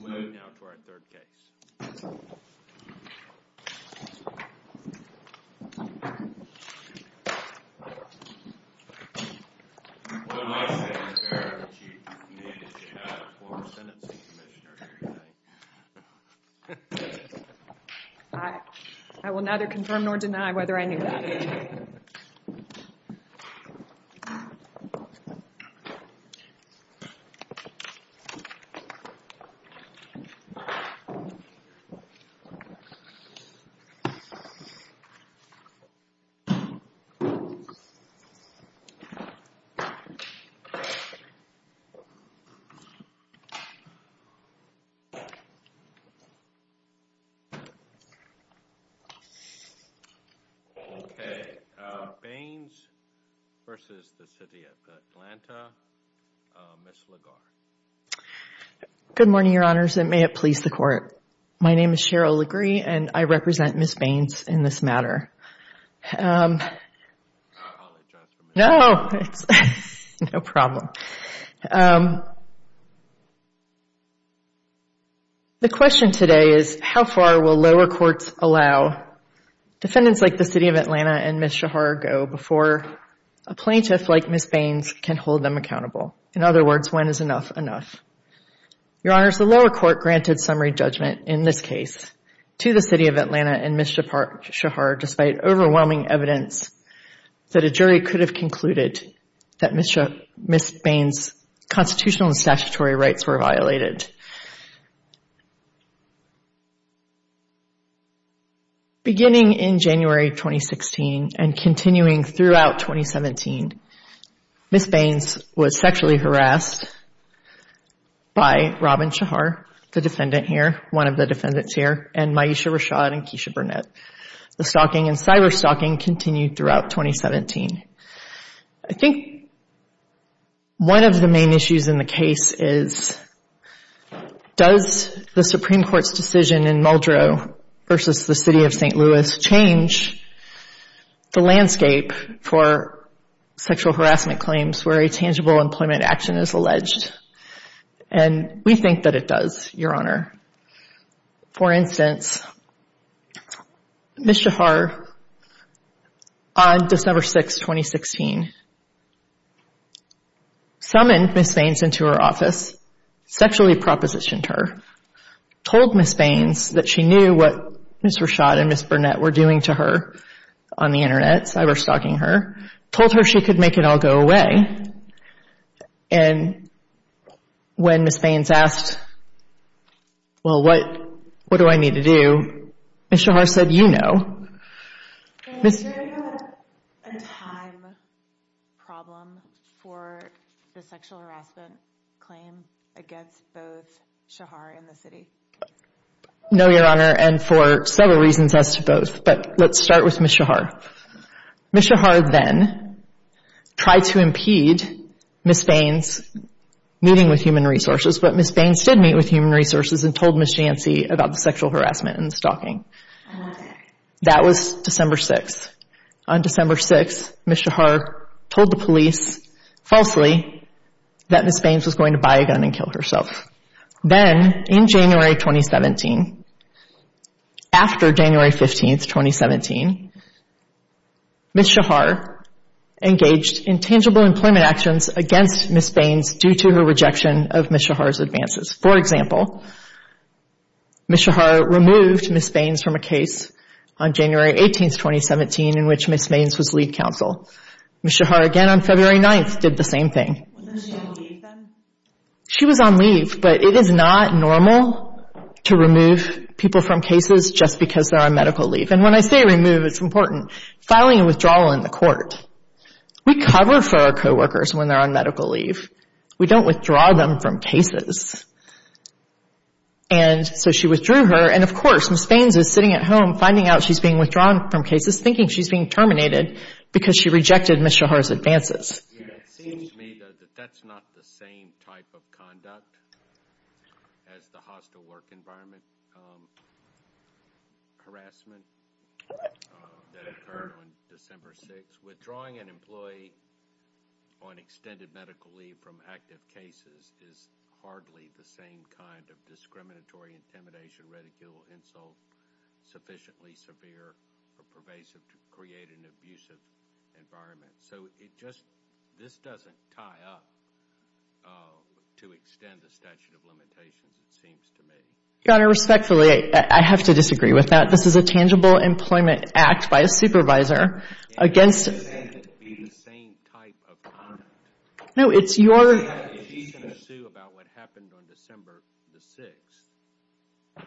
We'll move now to our third case. What advice would you give to a former sentencing commissioner? I will neither confirm nor deny whether I knew that. Baines v. City of Atlanta, Miss LaGarde Good morning, Your Honors, and may it please the Court. My name is Cheryl LeGre and I represent Ms. Baines in this matter. The question today is how far will lower courts allow defendants like the City of Atlanta and Ms. Shahar go before a plaintiff like Ms. Baines can hold them accountable? In other words, when is enough enough? Your Honors, the lower court granted summary judgment in this case to the City of Atlanta and Ms. Shahar despite overwhelming evidence that a jury could have concluded that Ms. Baines' constitutional and statutory rights were violated. Beginning in January 2016 and continuing throughout 2017, Ms. Baines was sexually harassed by Robin Shahar, the defendant here, one of the defendants here, and Myesha Rashad and Keisha Burnett. The stalking and cyber-stalking continued throughout 2017. I think one of the main issues in the case is does the Supreme Court's decision in Muldrow versus the City of St. Louis change the landscape for sexual harassment claims where a tangible employment action is alleged? And we think that it does, Your Honor. For instance, Ms. Shahar, on December 6, 2016, summoned Ms. Baines into her office, sexually propositioned her, told Ms. Baines that she knew what Ms. Rashad and Ms. Burnett were doing to her on the Internet, cyber-stalking her, told her she could make it all go away. And when Ms. Baines asked, well, what do I need to do? Ms. Shahar said, you know. No, Your Honor, and for several reasons as to both. But let's start with Ms. Shahar. Ms. Shahar then tried to impede Ms. Baines meeting with Human Resources, but Ms. Baines did meet with Human Resources and told Ms. Jantzi about the sexual harassment and stalking. That was December 6. On December 6, Ms. Shahar told the police, falsely, that Ms. Baines was going to buy a gun and kill herself. Then, in January 2017, after January 15, 2017, Ms. Shahar engaged in tangible employment actions against Ms. Baines due to her rejection of Ms. Shahar's advances. For example, Ms. Shahar removed Ms. Baines from a case on January 18, 2017, in which Ms. Baines was lead counsel. Ms. Shahar again on February 9 did the same thing. She was on leave, but it is not normal to remove people from cases just because they're on medical leave. And when I say remove, it's important. Filing a withdrawal in the court. We cover for our co-workers when they're on medical leave. We don't withdraw them from cases. And so she withdrew her, and of course, Ms. Baines is sitting at home finding out she's being withdrawn from cases, thinking she's being terminated because she rejected Ms. Shahar's advances. But that's not the same type of conduct as the hostile work environment harassment that occurred on December 6. Withdrawing an employee on extended medical leave from active cases is hardly the same kind of discriminatory intimidation, ridicule, insult, sufficiently severe or pervasive to create an abusive environment. So it just, this doesn't tie up to extend the statute of limitations, it seems to me. Your Honor, respectfully, I have to disagree with that. This is a tangible employment act by a supervisor against It can't be the same type of conduct. No, it's your She's going to sue about what happened on December the 6th.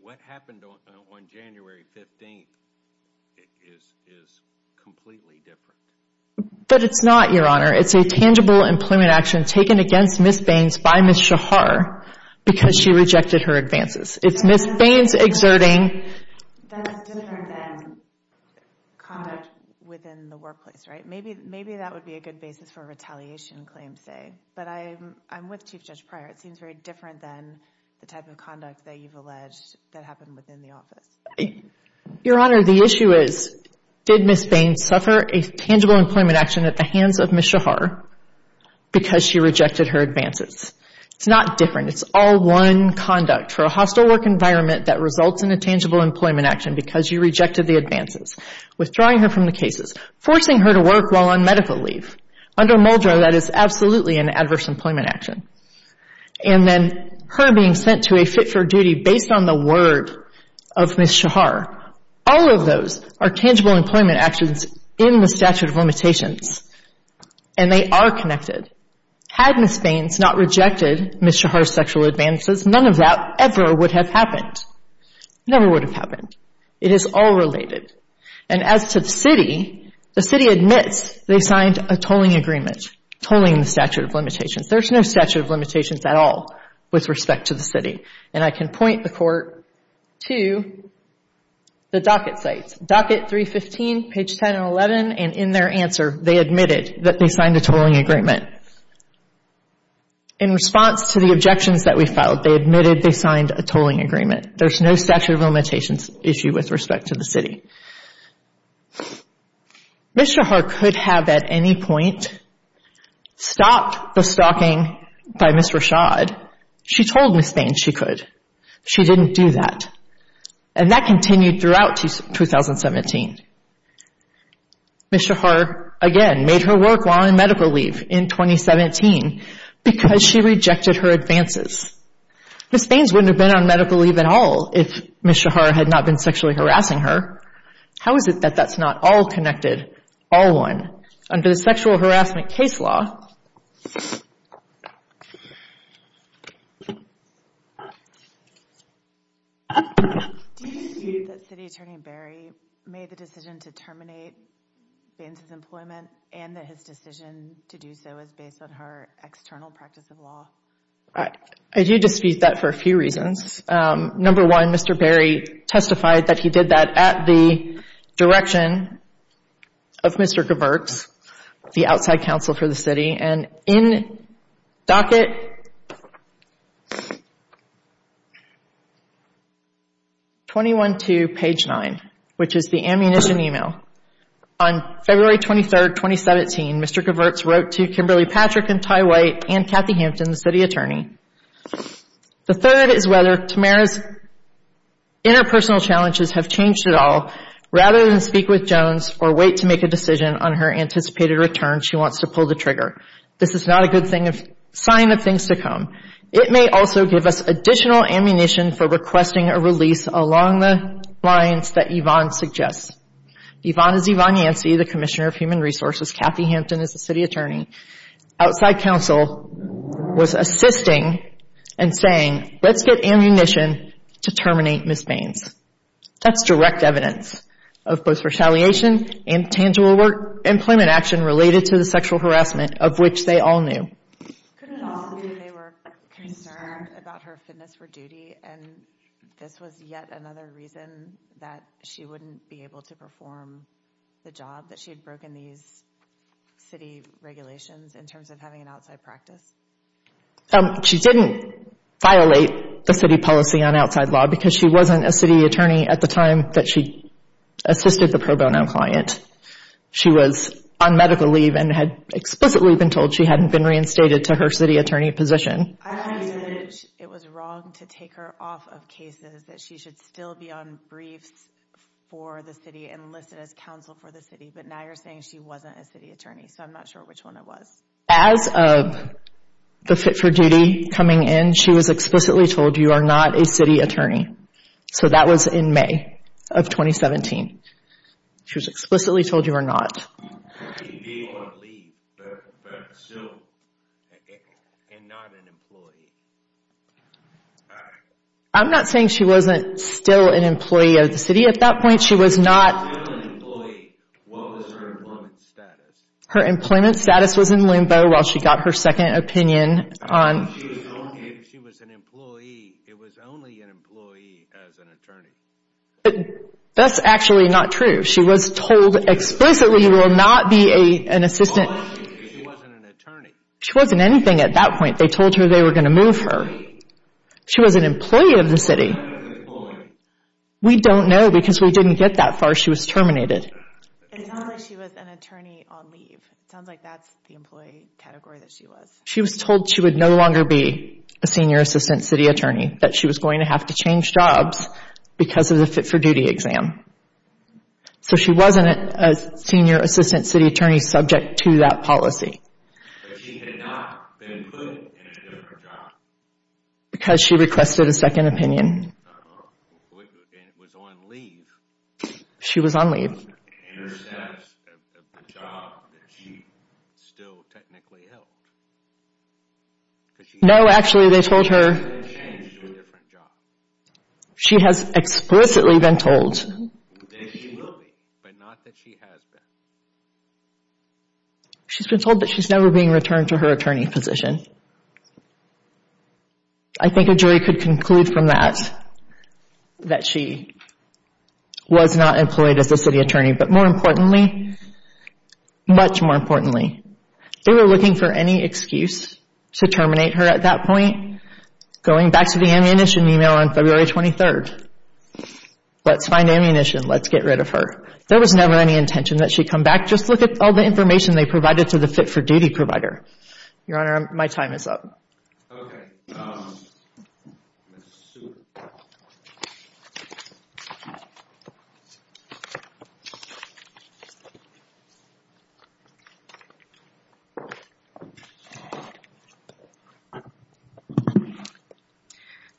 What happened on January 15th is completely different. But it's not, Your Honor. It's a tangible employment action taken against Ms. Baines by Ms. Shahar because she rejected her advances. It's Ms. Baines exerting That's different than conduct within the workplace, right? Maybe that would be a good basis for a retaliation claim, say. But I'm with Chief Judge Pryor. It seems very different than the type of conduct that you've alleged that happened within the office. Your Honor, the issue is, did Ms. Baines suffer a tangible employment action at the hands of Ms. Shahar because she rejected her advances? It's not different. It's all one conduct for a hostile work environment that results in a tangible employment action because you rejected the advances. Withdrawing her from the cases. Forcing her to work while on medical leave. Under Muldrow, that is absolutely an adverse employment action. And then her being sent to a fit-for-duty based on the word of Ms. Shahar. All of those are tangible employment actions in the statute of limitations. And they are connected. Had Ms. Baines not rejected Ms. Shahar's sexual advances, none of that ever would have happened. Never would have happened. It is all related. And as to the city, the city admits they signed a tolling agreement, tolling the statute of limitations. There's no statute of limitations at all with respect to the city. And I can point the Court to the docket sites. Docket 315, page 10 and 11. And in their answer, they admitted that they signed a tolling agreement. In response to the objections that we filed, they admitted they signed a tolling agreement. There's no statute of limitations issue with respect to the city. Ms. Shahar could have at any point stopped the stalking by Ms. Rashad. She told Ms. Baines she could. She didn't do that. And that continued throughout 2017. Ms. Shahar, again, made her work while on medical leave in 2017 because she rejected her advances. Ms. Baines wouldn't have been on medical leave at all if Ms. Shahar had not been sexually harassing her. How is it that that's not all connected, all one, under the sexual harassment case law? Do you dispute that City Attorney Berry made the decision to terminate Baines' employment and that his decision to do so is based on her external practice of law? I do dispute that for a few reasons. Number one, Mr. Berry testified that he did that at the direction of Mr. Gewerks, the outside counsel for the city. And in docket 21-2, page 9, which is the ammunition email, on February 23rd, 2017, Mr. Gewerks wrote to Kimberly Patrick and Ty White and Kathy Hampton, the city attorney. The third is whether Tamara's interpersonal challenges have changed at all. Rather than speak with Jones or wait to make a decision on her anticipated return, she wants to pull the trigger. This is not a good sign of things to come. It may also give us additional ammunition for requesting a release along the lines that Yvonne suggests. Yvonne is Yvonne Yancey, the Commissioner of Human Resources. Kathy Hampton is the city attorney. Outside counsel was assisting and saying, let's get ammunition to terminate Ms. Baines. That's direct evidence of both retaliation and tangible employment action related to the sexual harassment of which they all knew. Could it also be that they were concerned about her fitness for duty and this was yet another reason that she wouldn't be able to perform the job that she had broken these city regulations in terms of having an outside practice? She didn't violate the city policy on outside law because she wasn't a city attorney at the time that she assisted the pro bono client. She was on medical leave and had explicitly been told she hadn't been reinstated to her city attorney position. I had the image it was wrong to take her off of cases, that she should still be on briefs for the city and listed as counsel for the city, but now you're saying she wasn't a city attorney, so I'm not sure which one it was. As of the fit for duty coming in, she was explicitly told you are not a city attorney. So that was in May of 2017. She was explicitly told you are not. Being on leave, but still and not an employee. I'm not saying she wasn't still an employee of the city at that point. She was not. If she was not an employee, what was her employment status? Her employment status was in limbo while she got her second opinion. If she was an employee, it was only an employee as an attorney. That's actually not true. She was told explicitly you will not be an assistant. She wasn't an attorney. She wasn't anything at that point. They told her they were going to move her. She was an employee of the city. We don't know because we didn't get that far. She was terminated. It sounds like she was an attorney on leave. It sounds like that's the employee category that she was. She was told she would no longer be a senior assistant city attorney. That she was going to have to change jobs because of the fit for duty exam. So she wasn't a senior assistant city attorney subject to that policy. But she had not been included in a different job. Because she requested a second opinion. And it was on leave. She was on leave. No, actually they told her. She has explicitly been told. She's been told that she's never being returned to her attorney position. I think a jury could conclude from that. That she was not employed as a city attorney. But more importantly, much more importantly. They were looking for any excuse to terminate her at that point. Going back to the ammunition email on February 23rd. Let's find ammunition. Let's get rid of her. There was never any intention that she come back. Just look at all the information they provided to the fit for duty provider. Your honor, my time is up.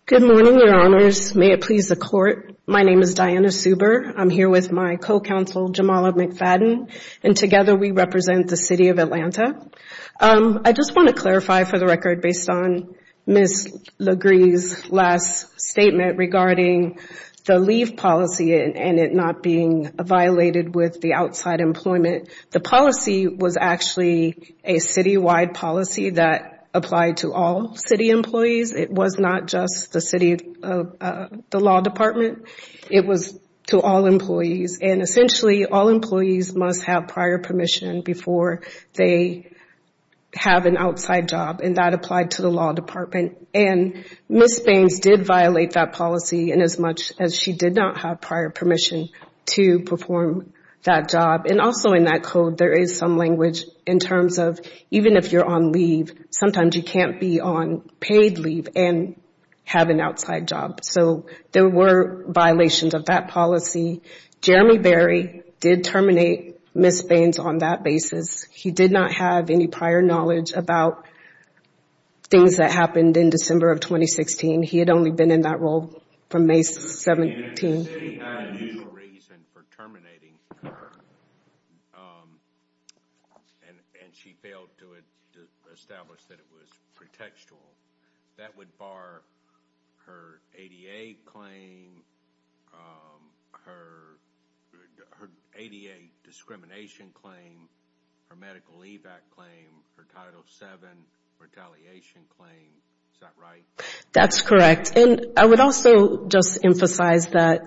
Good morning, your honors. May it please the court. My name is Diana Suber. I'm here with my co-counsel Jamala McFadden. And together we represent the city of Atlanta. I just want to clarify for the record. Based on Ms. Legree's last statement regarding the leave policy. And it not being violated with the outside employment. The policy was actually a citywide policy that applied to all city employees. It was not just the city of the law department. It was to all employees. And essentially all employees must have prior permission before they have an outside job. And that applied to the law department. And Ms. Baines did violate that policy in as much as she did not have prior permission to perform that job. And also in that code there is some language in terms of even if you're on leave. Sometimes you can't be on paid leave and have an outside job. So there were violations of that policy. Jeremy Berry did terminate Ms. Baines on that basis. He did not have any prior knowledge about things that happened in December of 2016. He had only been in that role from May 17. The city had a reason for terminating her. And she failed to establish that it was pretextual. That would bar her ADA claim. Her ADA discrimination claim. Her medical leave act claim. Her Title VII retaliation claim. Is that right? That's correct. Yes. And I would also just emphasize that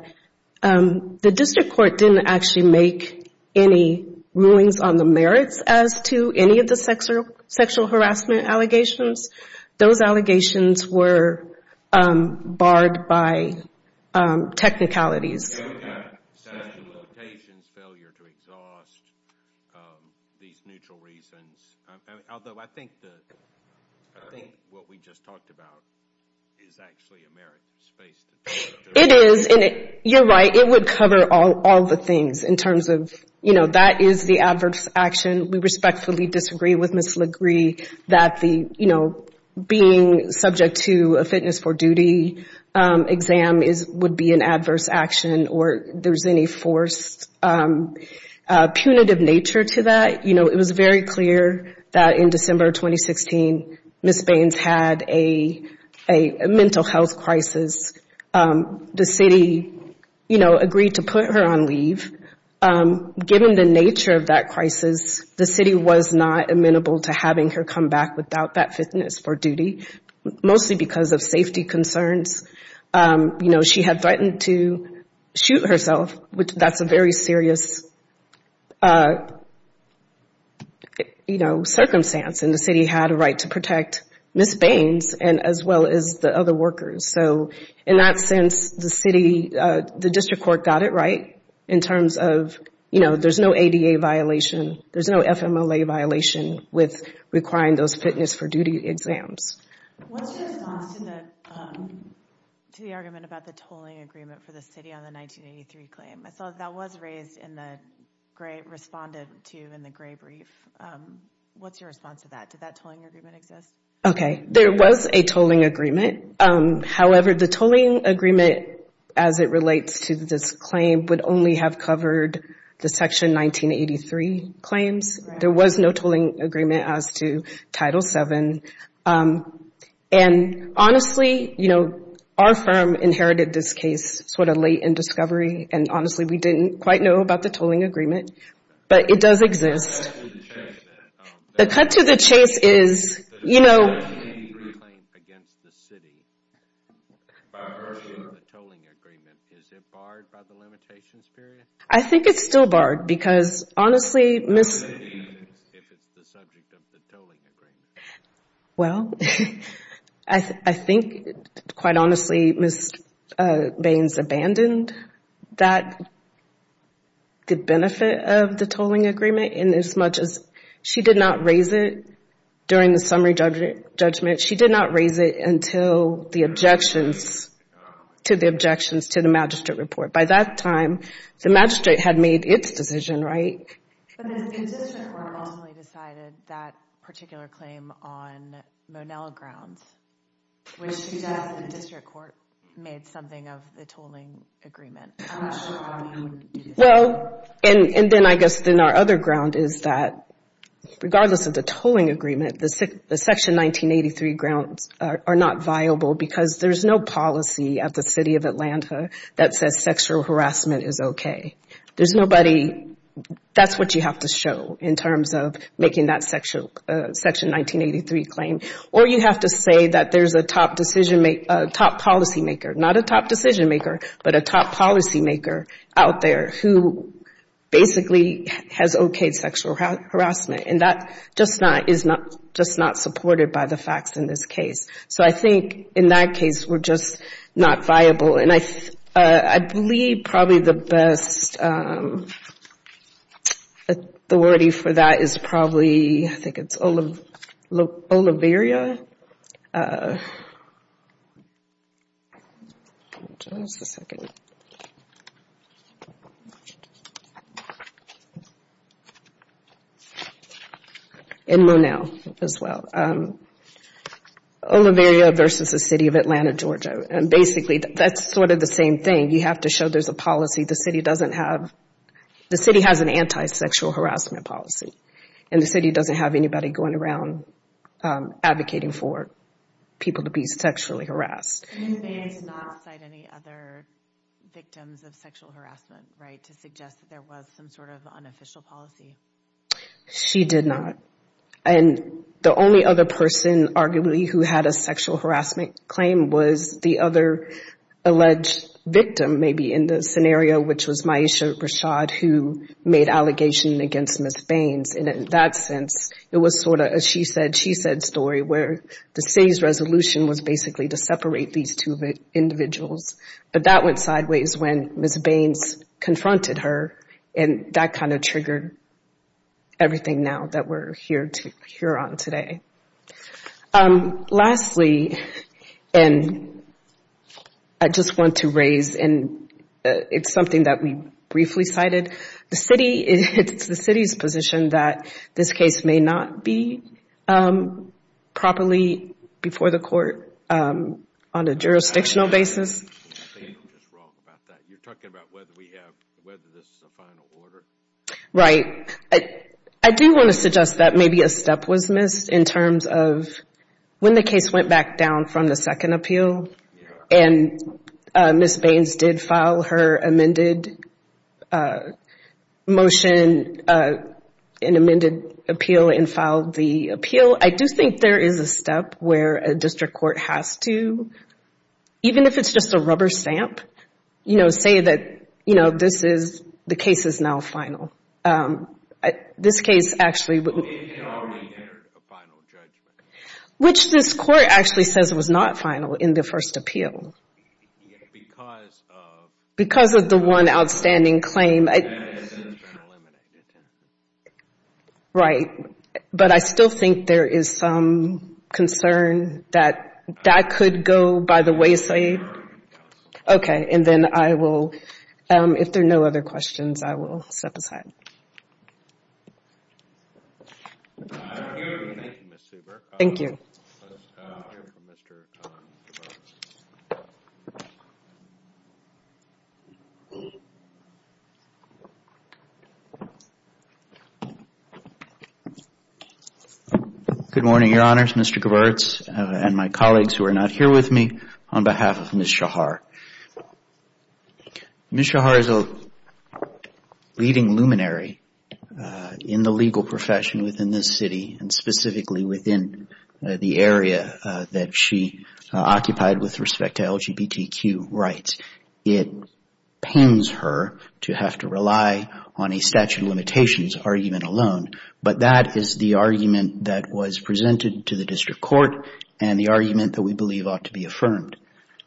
the district court didn't actually make any rulings on the merits as to any of the sexual harassment allegations. Those allegations were barred by technicalities. Sexual limitations. Failure to exhaust. These neutral reasons. Although I think what we just talked about is actually a merits case. It is. And you're right. It would cover all the things in terms of, you know, that is the adverse action. We respectfully disagree with Ms. LaGrie that the, you know, being subject to a fitness for duty exam would be an adverse action or there's any forced punitive nature to that. You know, it was very clear that in December 2016, Ms. Baines had a mental health crisis. The city, you know, agreed to put her on leave. Given the nature of that crisis, the city was not amenable to having her come back without that fitness for duty. Mostly because of safety concerns. You know, she had threatened to shoot herself. That's a very serious, you know, circumstance. And the city had a right to protect Ms. Baines as well as the other workers. So in that sense, the city, the district court got it right in terms of, you know, there's no ADA violation. There's no FMLA violation with requiring those fitness for duty exams. What's your response to the argument about the tolling agreement for the city on the 1983 claim? I saw that was raised in the gray, responded to in the gray brief. What's your response to that? Did that tolling agreement exist? Okay. There was a tolling agreement. However, the tolling agreement as it relates to this claim would only have covered the Section 1983 claims. There was no tolling agreement as to Title VII. And honestly, you know, our firm inherited this case sort of late in discovery. And honestly, we didn't quite know about the tolling agreement. But it does exist. The cut to the chase is, you know. I think it's still barred because honestly Ms. If it's the subject of the tolling agreement. Well, I think, quite honestly, Ms. Baines abandoned that benefit of the tolling agreement in as much as she did not raise it during the summary judgment. She did not raise it until the objections to the magistrate report. By that time, the magistrate had made its decision, right? But the district court ultimately decided that particular claim on Monell grounds. Which she does. The district court made something of the tolling agreement. I'm not sure how many would do that. Well, and then I guess then our other ground is that regardless of the tolling agreement, the Section 1983 grounds are not viable because there's no policy at the City of Atlanta that says sexual harassment is okay. There's nobody. That's what you have to show in terms of making that Section 1983 claim. Or you have to say that there's a top policymaker, not a top decision maker, but a top policymaker out there who basically has okayed sexual harassment. And that is just not supported by the facts in this case. So I think in that case, we're just not viable. And I believe probably the best authority for that is probably, I think it's Oliveria. In Monell as well. Oliveria versus the City of Atlanta, Georgia. And basically that's sort of the same thing. You have to show there's a policy the City doesn't have. The City has an anti-sexual harassment policy. And the City doesn't have anybody going around advocating for people to be sexually harassed. She did not. And the only other person arguably who had a sexual harassment claim was the other alleged victim maybe in the scenario, which was Myisha Rashad who made allegations against Ms. Baines. And in that sense, it was sort of a she said, she said story where the City's resolution was basically to separate these two individuals. But that went sideways when Ms. Baines confronted her. And that kind of triggered everything now that we're here on today. Lastly, and I just want to raise, and it's something that we briefly cited. The City, it's the City's position that this case may not be properly before the court on a jurisdictional basis. I think you're just wrong about that. You're talking about whether we have, whether this is a final order. Right. I do want to suggest that maybe a step was missed in terms of when the case went back down from the second appeal and Ms. Baines did file her amended motion, an amended appeal and filed the appeal. I do think there is a step where a district court has to, even if it's just a rubber stamp, you know, say that, you know, this is, the case is now final. This case actually wouldn't. It already entered a final judgment. Which this court actually says was not final in the first appeal. Because of. Because of the one outstanding claim. It's been eliminated. Right. But I still think there is some concern that that could go by the wayside. Okay. And then I will, if there are no other questions, I will step aside. Thank you. Thank you, Ms. Zuber. Thank you. Good morning, Your Honors. Mr. Gerberts and my colleagues who are not here with me on behalf of Ms. Shahar. Ms. Shahar is a leading luminary in the legal profession within this city and specifically within the area that she occupied with respect to LGBTQ rights. It pains her to have to rely on a statute of limitations argument alone. But that is the argument that was presented to the district court and the argument that we believe ought to be affirmed.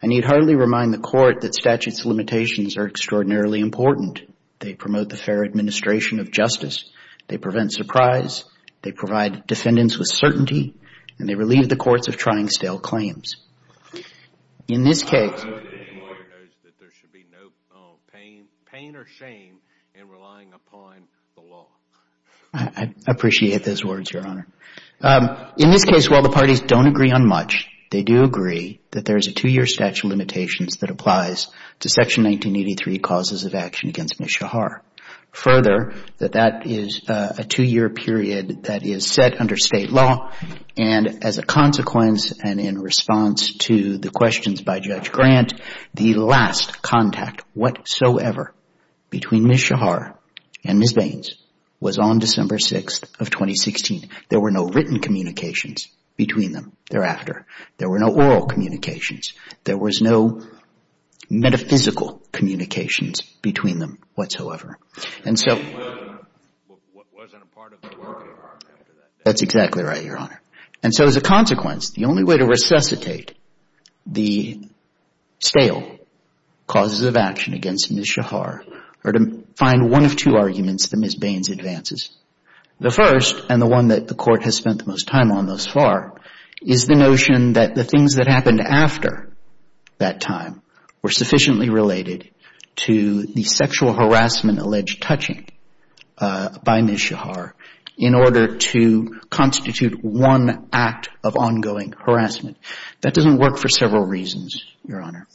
I need hardly remind the court that statutes of limitations are extraordinarily important. They promote the fair administration of justice. They prevent surprise. They provide defendants with certainty. And they relieve the courts of trying stale claims. In this case. I know that the court knows that there should be no pain or shame in relying upon the law. I appreciate those words, Your Honor. In this case, while the parties don't agree on much, they do agree that there is a two-year statute of limitations that applies to Section 1983 causes of action against Ms. Shahar. Further, that that is a two-year period that is set under state law. And as a consequence and in response to the questions by Judge Grant, the last contact whatsoever between Ms. Shahar and Ms. Baines was on December 6th of 2016. There were no written communications between them thereafter. There were no oral communications. There was no metaphysical communications between them whatsoever. And so. That's exactly right, Your Honor. And so as a consequence, the only way to resuscitate the stale causes of action against Ms. Shahar are to find one of two arguments that Ms. Baines advances. The first, and the one that the court has spent the most time on thus far, is the notion that the things that happened after that time were sufficiently related to the sexual harassment alleged touching by Ms. Shahar in order to constitute one act of ongoing harassment. That doesn't work for several reasons, Your Honor.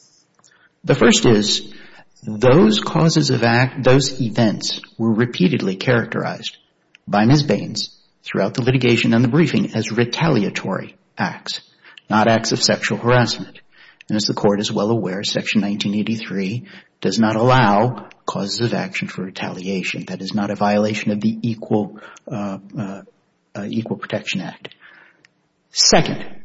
The first is those causes of act, those events were repeatedly characterized by Ms. Baines throughout the litigation and the briefing as retaliatory acts, not acts of sexual harassment. And as the court is well aware, Section 1983 does not allow causes of action for retaliation. That is not a violation of the Equal Protection Act. Second,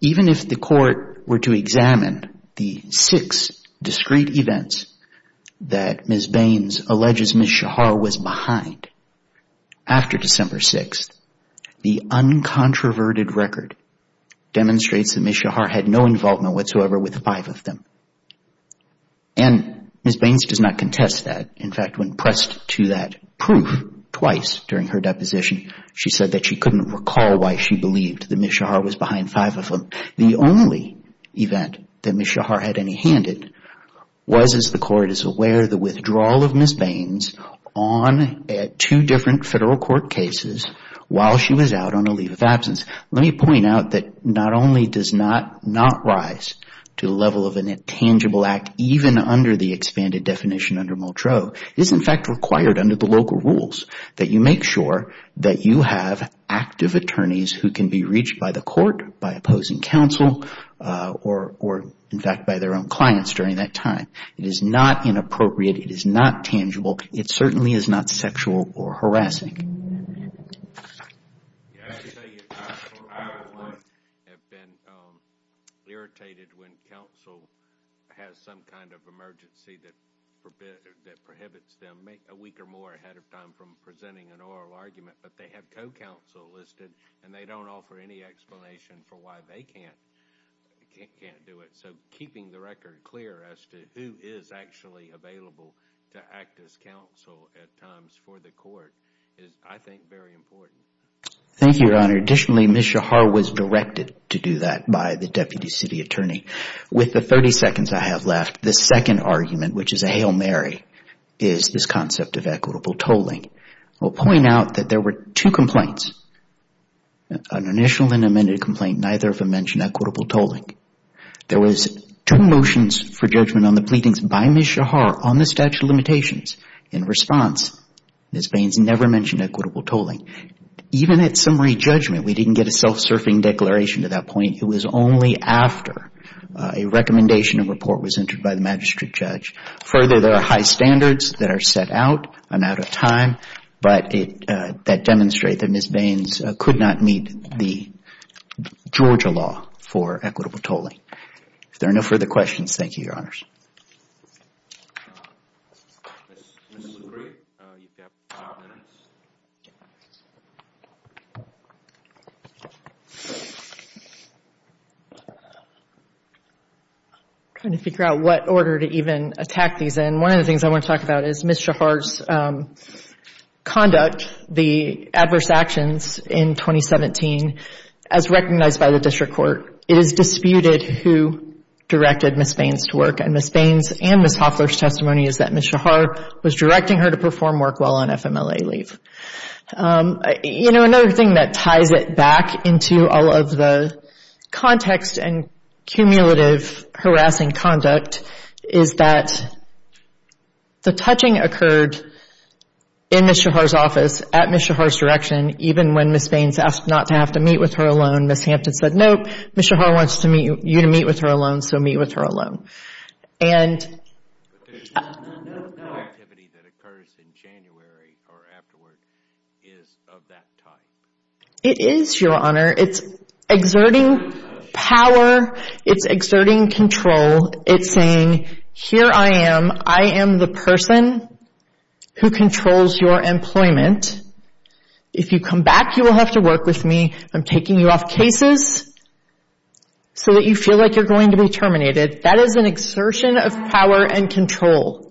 even if the court were to examine the six discrete events that Ms. Baines alleges Ms. Shahar was behind after December 6th, the uncontroverted record demonstrates that Ms. Shahar had no involvement whatsoever with five of them. And Ms. Baines does not contest that. In fact, when pressed to that proof twice during her deposition, she said that she couldn't recall why she believed that Ms. Shahar was behind five of them. The only event that Ms. Shahar had any hand in was, as the court is aware, the withdrawal of Ms. Baines on two different federal court cases while she was out on a leave of absence. Let me point out that not only does not rise to the level of a tangible act, even under the expanded definition under Mottro, it is in fact required under the local rules that you make sure that you have active attorneys who can be reached by the court, by opposing counsel, or in fact by their own clients during that time. It is not inappropriate. It is not tangible. It certainly is not sexual or harassing. I have to tell you, I have been irritated when counsel has some kind of emergency that prohibits them a week or more ahead of time from presenting an oral argument, but they have co-counsel listed and they don't offer any explanation for why they can't do it. So keeping the record clear as to who is actually available to act as counsel at times for the court is, I think, very important. Thank you, Your Honor. Additionally, Ms. Shahar was directed to do that by the Deputy City Attorney. With the 30 seconds I have left, the second argument, which is a Hail Mary, is this concept of equitable tolling. I will point out that there were two complaints, an initial and amended complaint, neither of them mentioned equitable tolling. There was two motions for judgment on the pleadings by Ms. Shahar on the statute of limitations. In response, Ms. Baines never mentioned equitable tolling. Even at summary judgment, we didn't get a self-serving declaration to that point. It was only after a recommendation of report was entered by the magistrate judge. Further, there are high standards that are set out. I'm out of time. But that demonstrates that Ms. Baines could not meet the Georgia law for equitable tolling. If there are no further questions, thank you, Your Honors. This is great. You have five minutes. Trying to figure out what order to even attack these in. One of the things I want to talk about is Ms. Shahar's conduct, the adverse actions in 2017, as recognized by the District Court. It is disputed who directed Ms. Baines to work. Ms. Hofler's testimony is that Ms. Shahar was directing her to perform work while on FMLA leave. Another thing that ties it back into all of the context and cumulative harassing conduct is that the touching occurred in Ms. Shahar's office at Ms. Shahar's direction, even when Ms. Baines asked not to have to meet with her alone. Ms. Hampton said, nope, Ms. Shahar wants you to meet with her alone, so meet with her alone. But the activity that occurs in January or afterward is of that type. It is, Your Honor. It's exerting power. It's exerting control. It's saying, here I am. I am the person who controls your employment. If you come back, you will have to work with me. I'm taking you off cases so that you feel like you're going to be terminated. That is an exertion of power and control.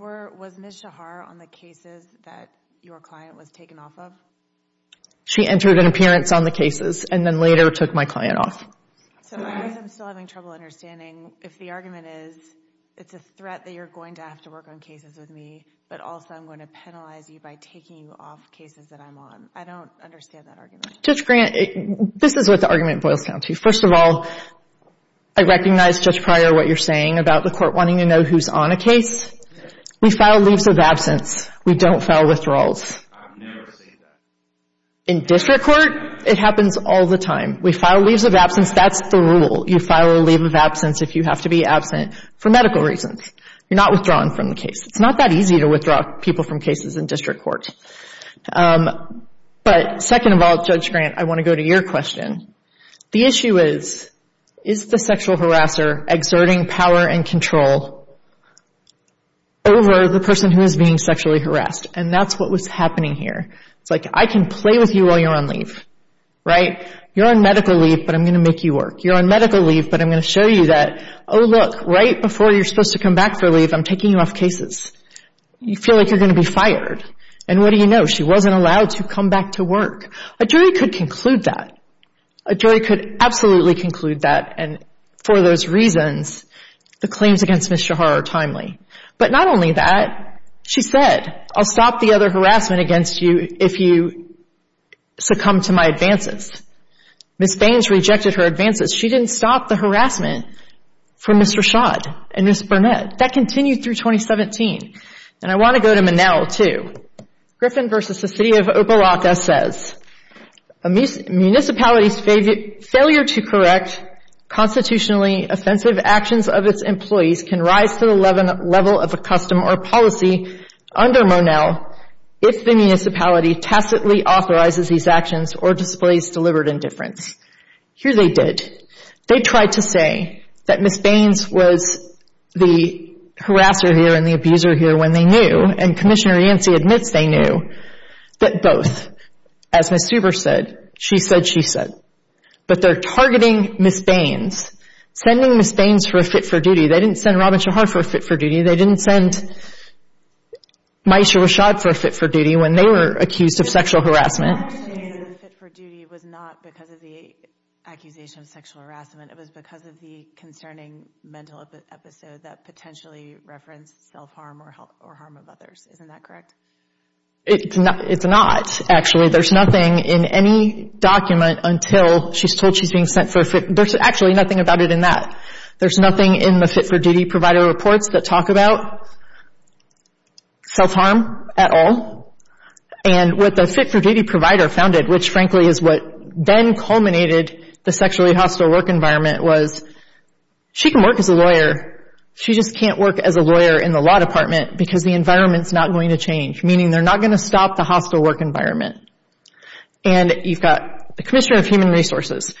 Was Ms. Shahar on the cases that your client was taken off of? She entered an appearance on the cases and then later took my client off. So I guess I'm still having trouble understanding if the argument is, it's a threat that you're going to have to work on cases with me, but also I'm going to penalize you by taking you off cases that I'm on. I don't understand that argument. Judge Grant, this is what the argument boils down to. First of all, I recognize, Judge Pryor, what you're saying about the court wanting to know who's on a case. We file leaves of absence. We don't file withdrawals. In district court, it happens all the time. We file leaves of absence. That's the rule. You file a leave of absence if you have to be absent for medical reasons. You're not withdrawn from the case. It's not that easy to withdraw people from cases in district court. But second of all, Judge Grant, I want to go to your question. The issue is, is the sexual harasser exerting power and control over the person who is being sexually harassed? And that's what was happening here. It's like, I can play with you while you're on leave, right? You're on medical leave, but I'm going to make you work. You're on medical leave, but I'm going to show you that, oh, look, right before you're supposed to come back for leave, I'm taking you off cases. You feel like you're going to be fired. And what do you know? She wasn't allowed to come back to work. A jury could conclude that. A jury could absolutely conclude that. And for those reasons, the claims against Ms. Shahar are timely. But not only that, she said, I'll stop the other harassment against you if you succumb to my advances. Ms. Baines rejected her advances. She didn't stop the harassment for Mr. Schott and Ms. Burnett. That continued through 2017. And I want to go to Manel, too. Griffin v. The City of Opa-Rata says, a municipality's failure to correct constitutionally offensive actions of its employees can rise to the level of a custom or policy under Manel if the municipality tacitly authorizes these actions or displays deliberate indifference. Here they did. They tried to say that Ms. Baines was the harasser here and the abuser here when they knew. And Commissioner Yancey admits they knew. But both. As Ms. Huber said, she said, she said. But they're targeting Ms. Baines. Sending Ms. Baines for a fit-for-duty. They didn't send Robin Shahar for a fit-for-duty. They didn't send Maisha Rashad for a fit-for-duty when they were accused of sexual harassment. Ms. Baines' fit-for-duty was not because of the accusation of sexual harassment. It was because of the concerning mental episode that potentially referenced self-harm or harm of others. Isn't that correct? It's not, actually. There's nothing in any document until she's told she's being sent for a fit. There's actually nothing about it in that. There's nothing in the fit-for-duty provider reports that talk about self-harm at all. And what the fit-for-duty provider founded, which frankly is what then culminated the sexually hostile work environment, was she can work as a lawyer. She just can't work as a lawyer in the law department because the environment's not going to change. Meaning they're not going to stop the hostile work environment. And you've got the Commissioner of Human Resources.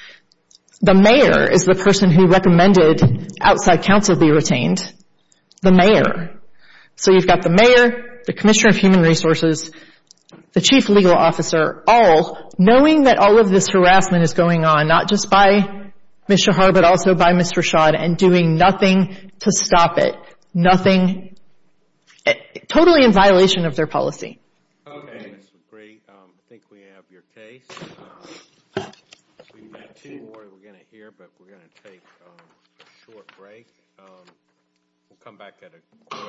The mayor is the person who recommended outside counsel be retained. The mayor. So you've got the mayor, the Commissioner of Human Resources, the Chief Legal Officer, all knowing that all of this harassment is going on, not just by Ms. Shahar but also by Ms. Rashad, and doing nothing to stop it. Nothing. Totally in violation of their policy. Okay, that's great. I think we have your case. We've got two more we're going to hear, but we're going to take a short break. We'll come back at a later date. All rise.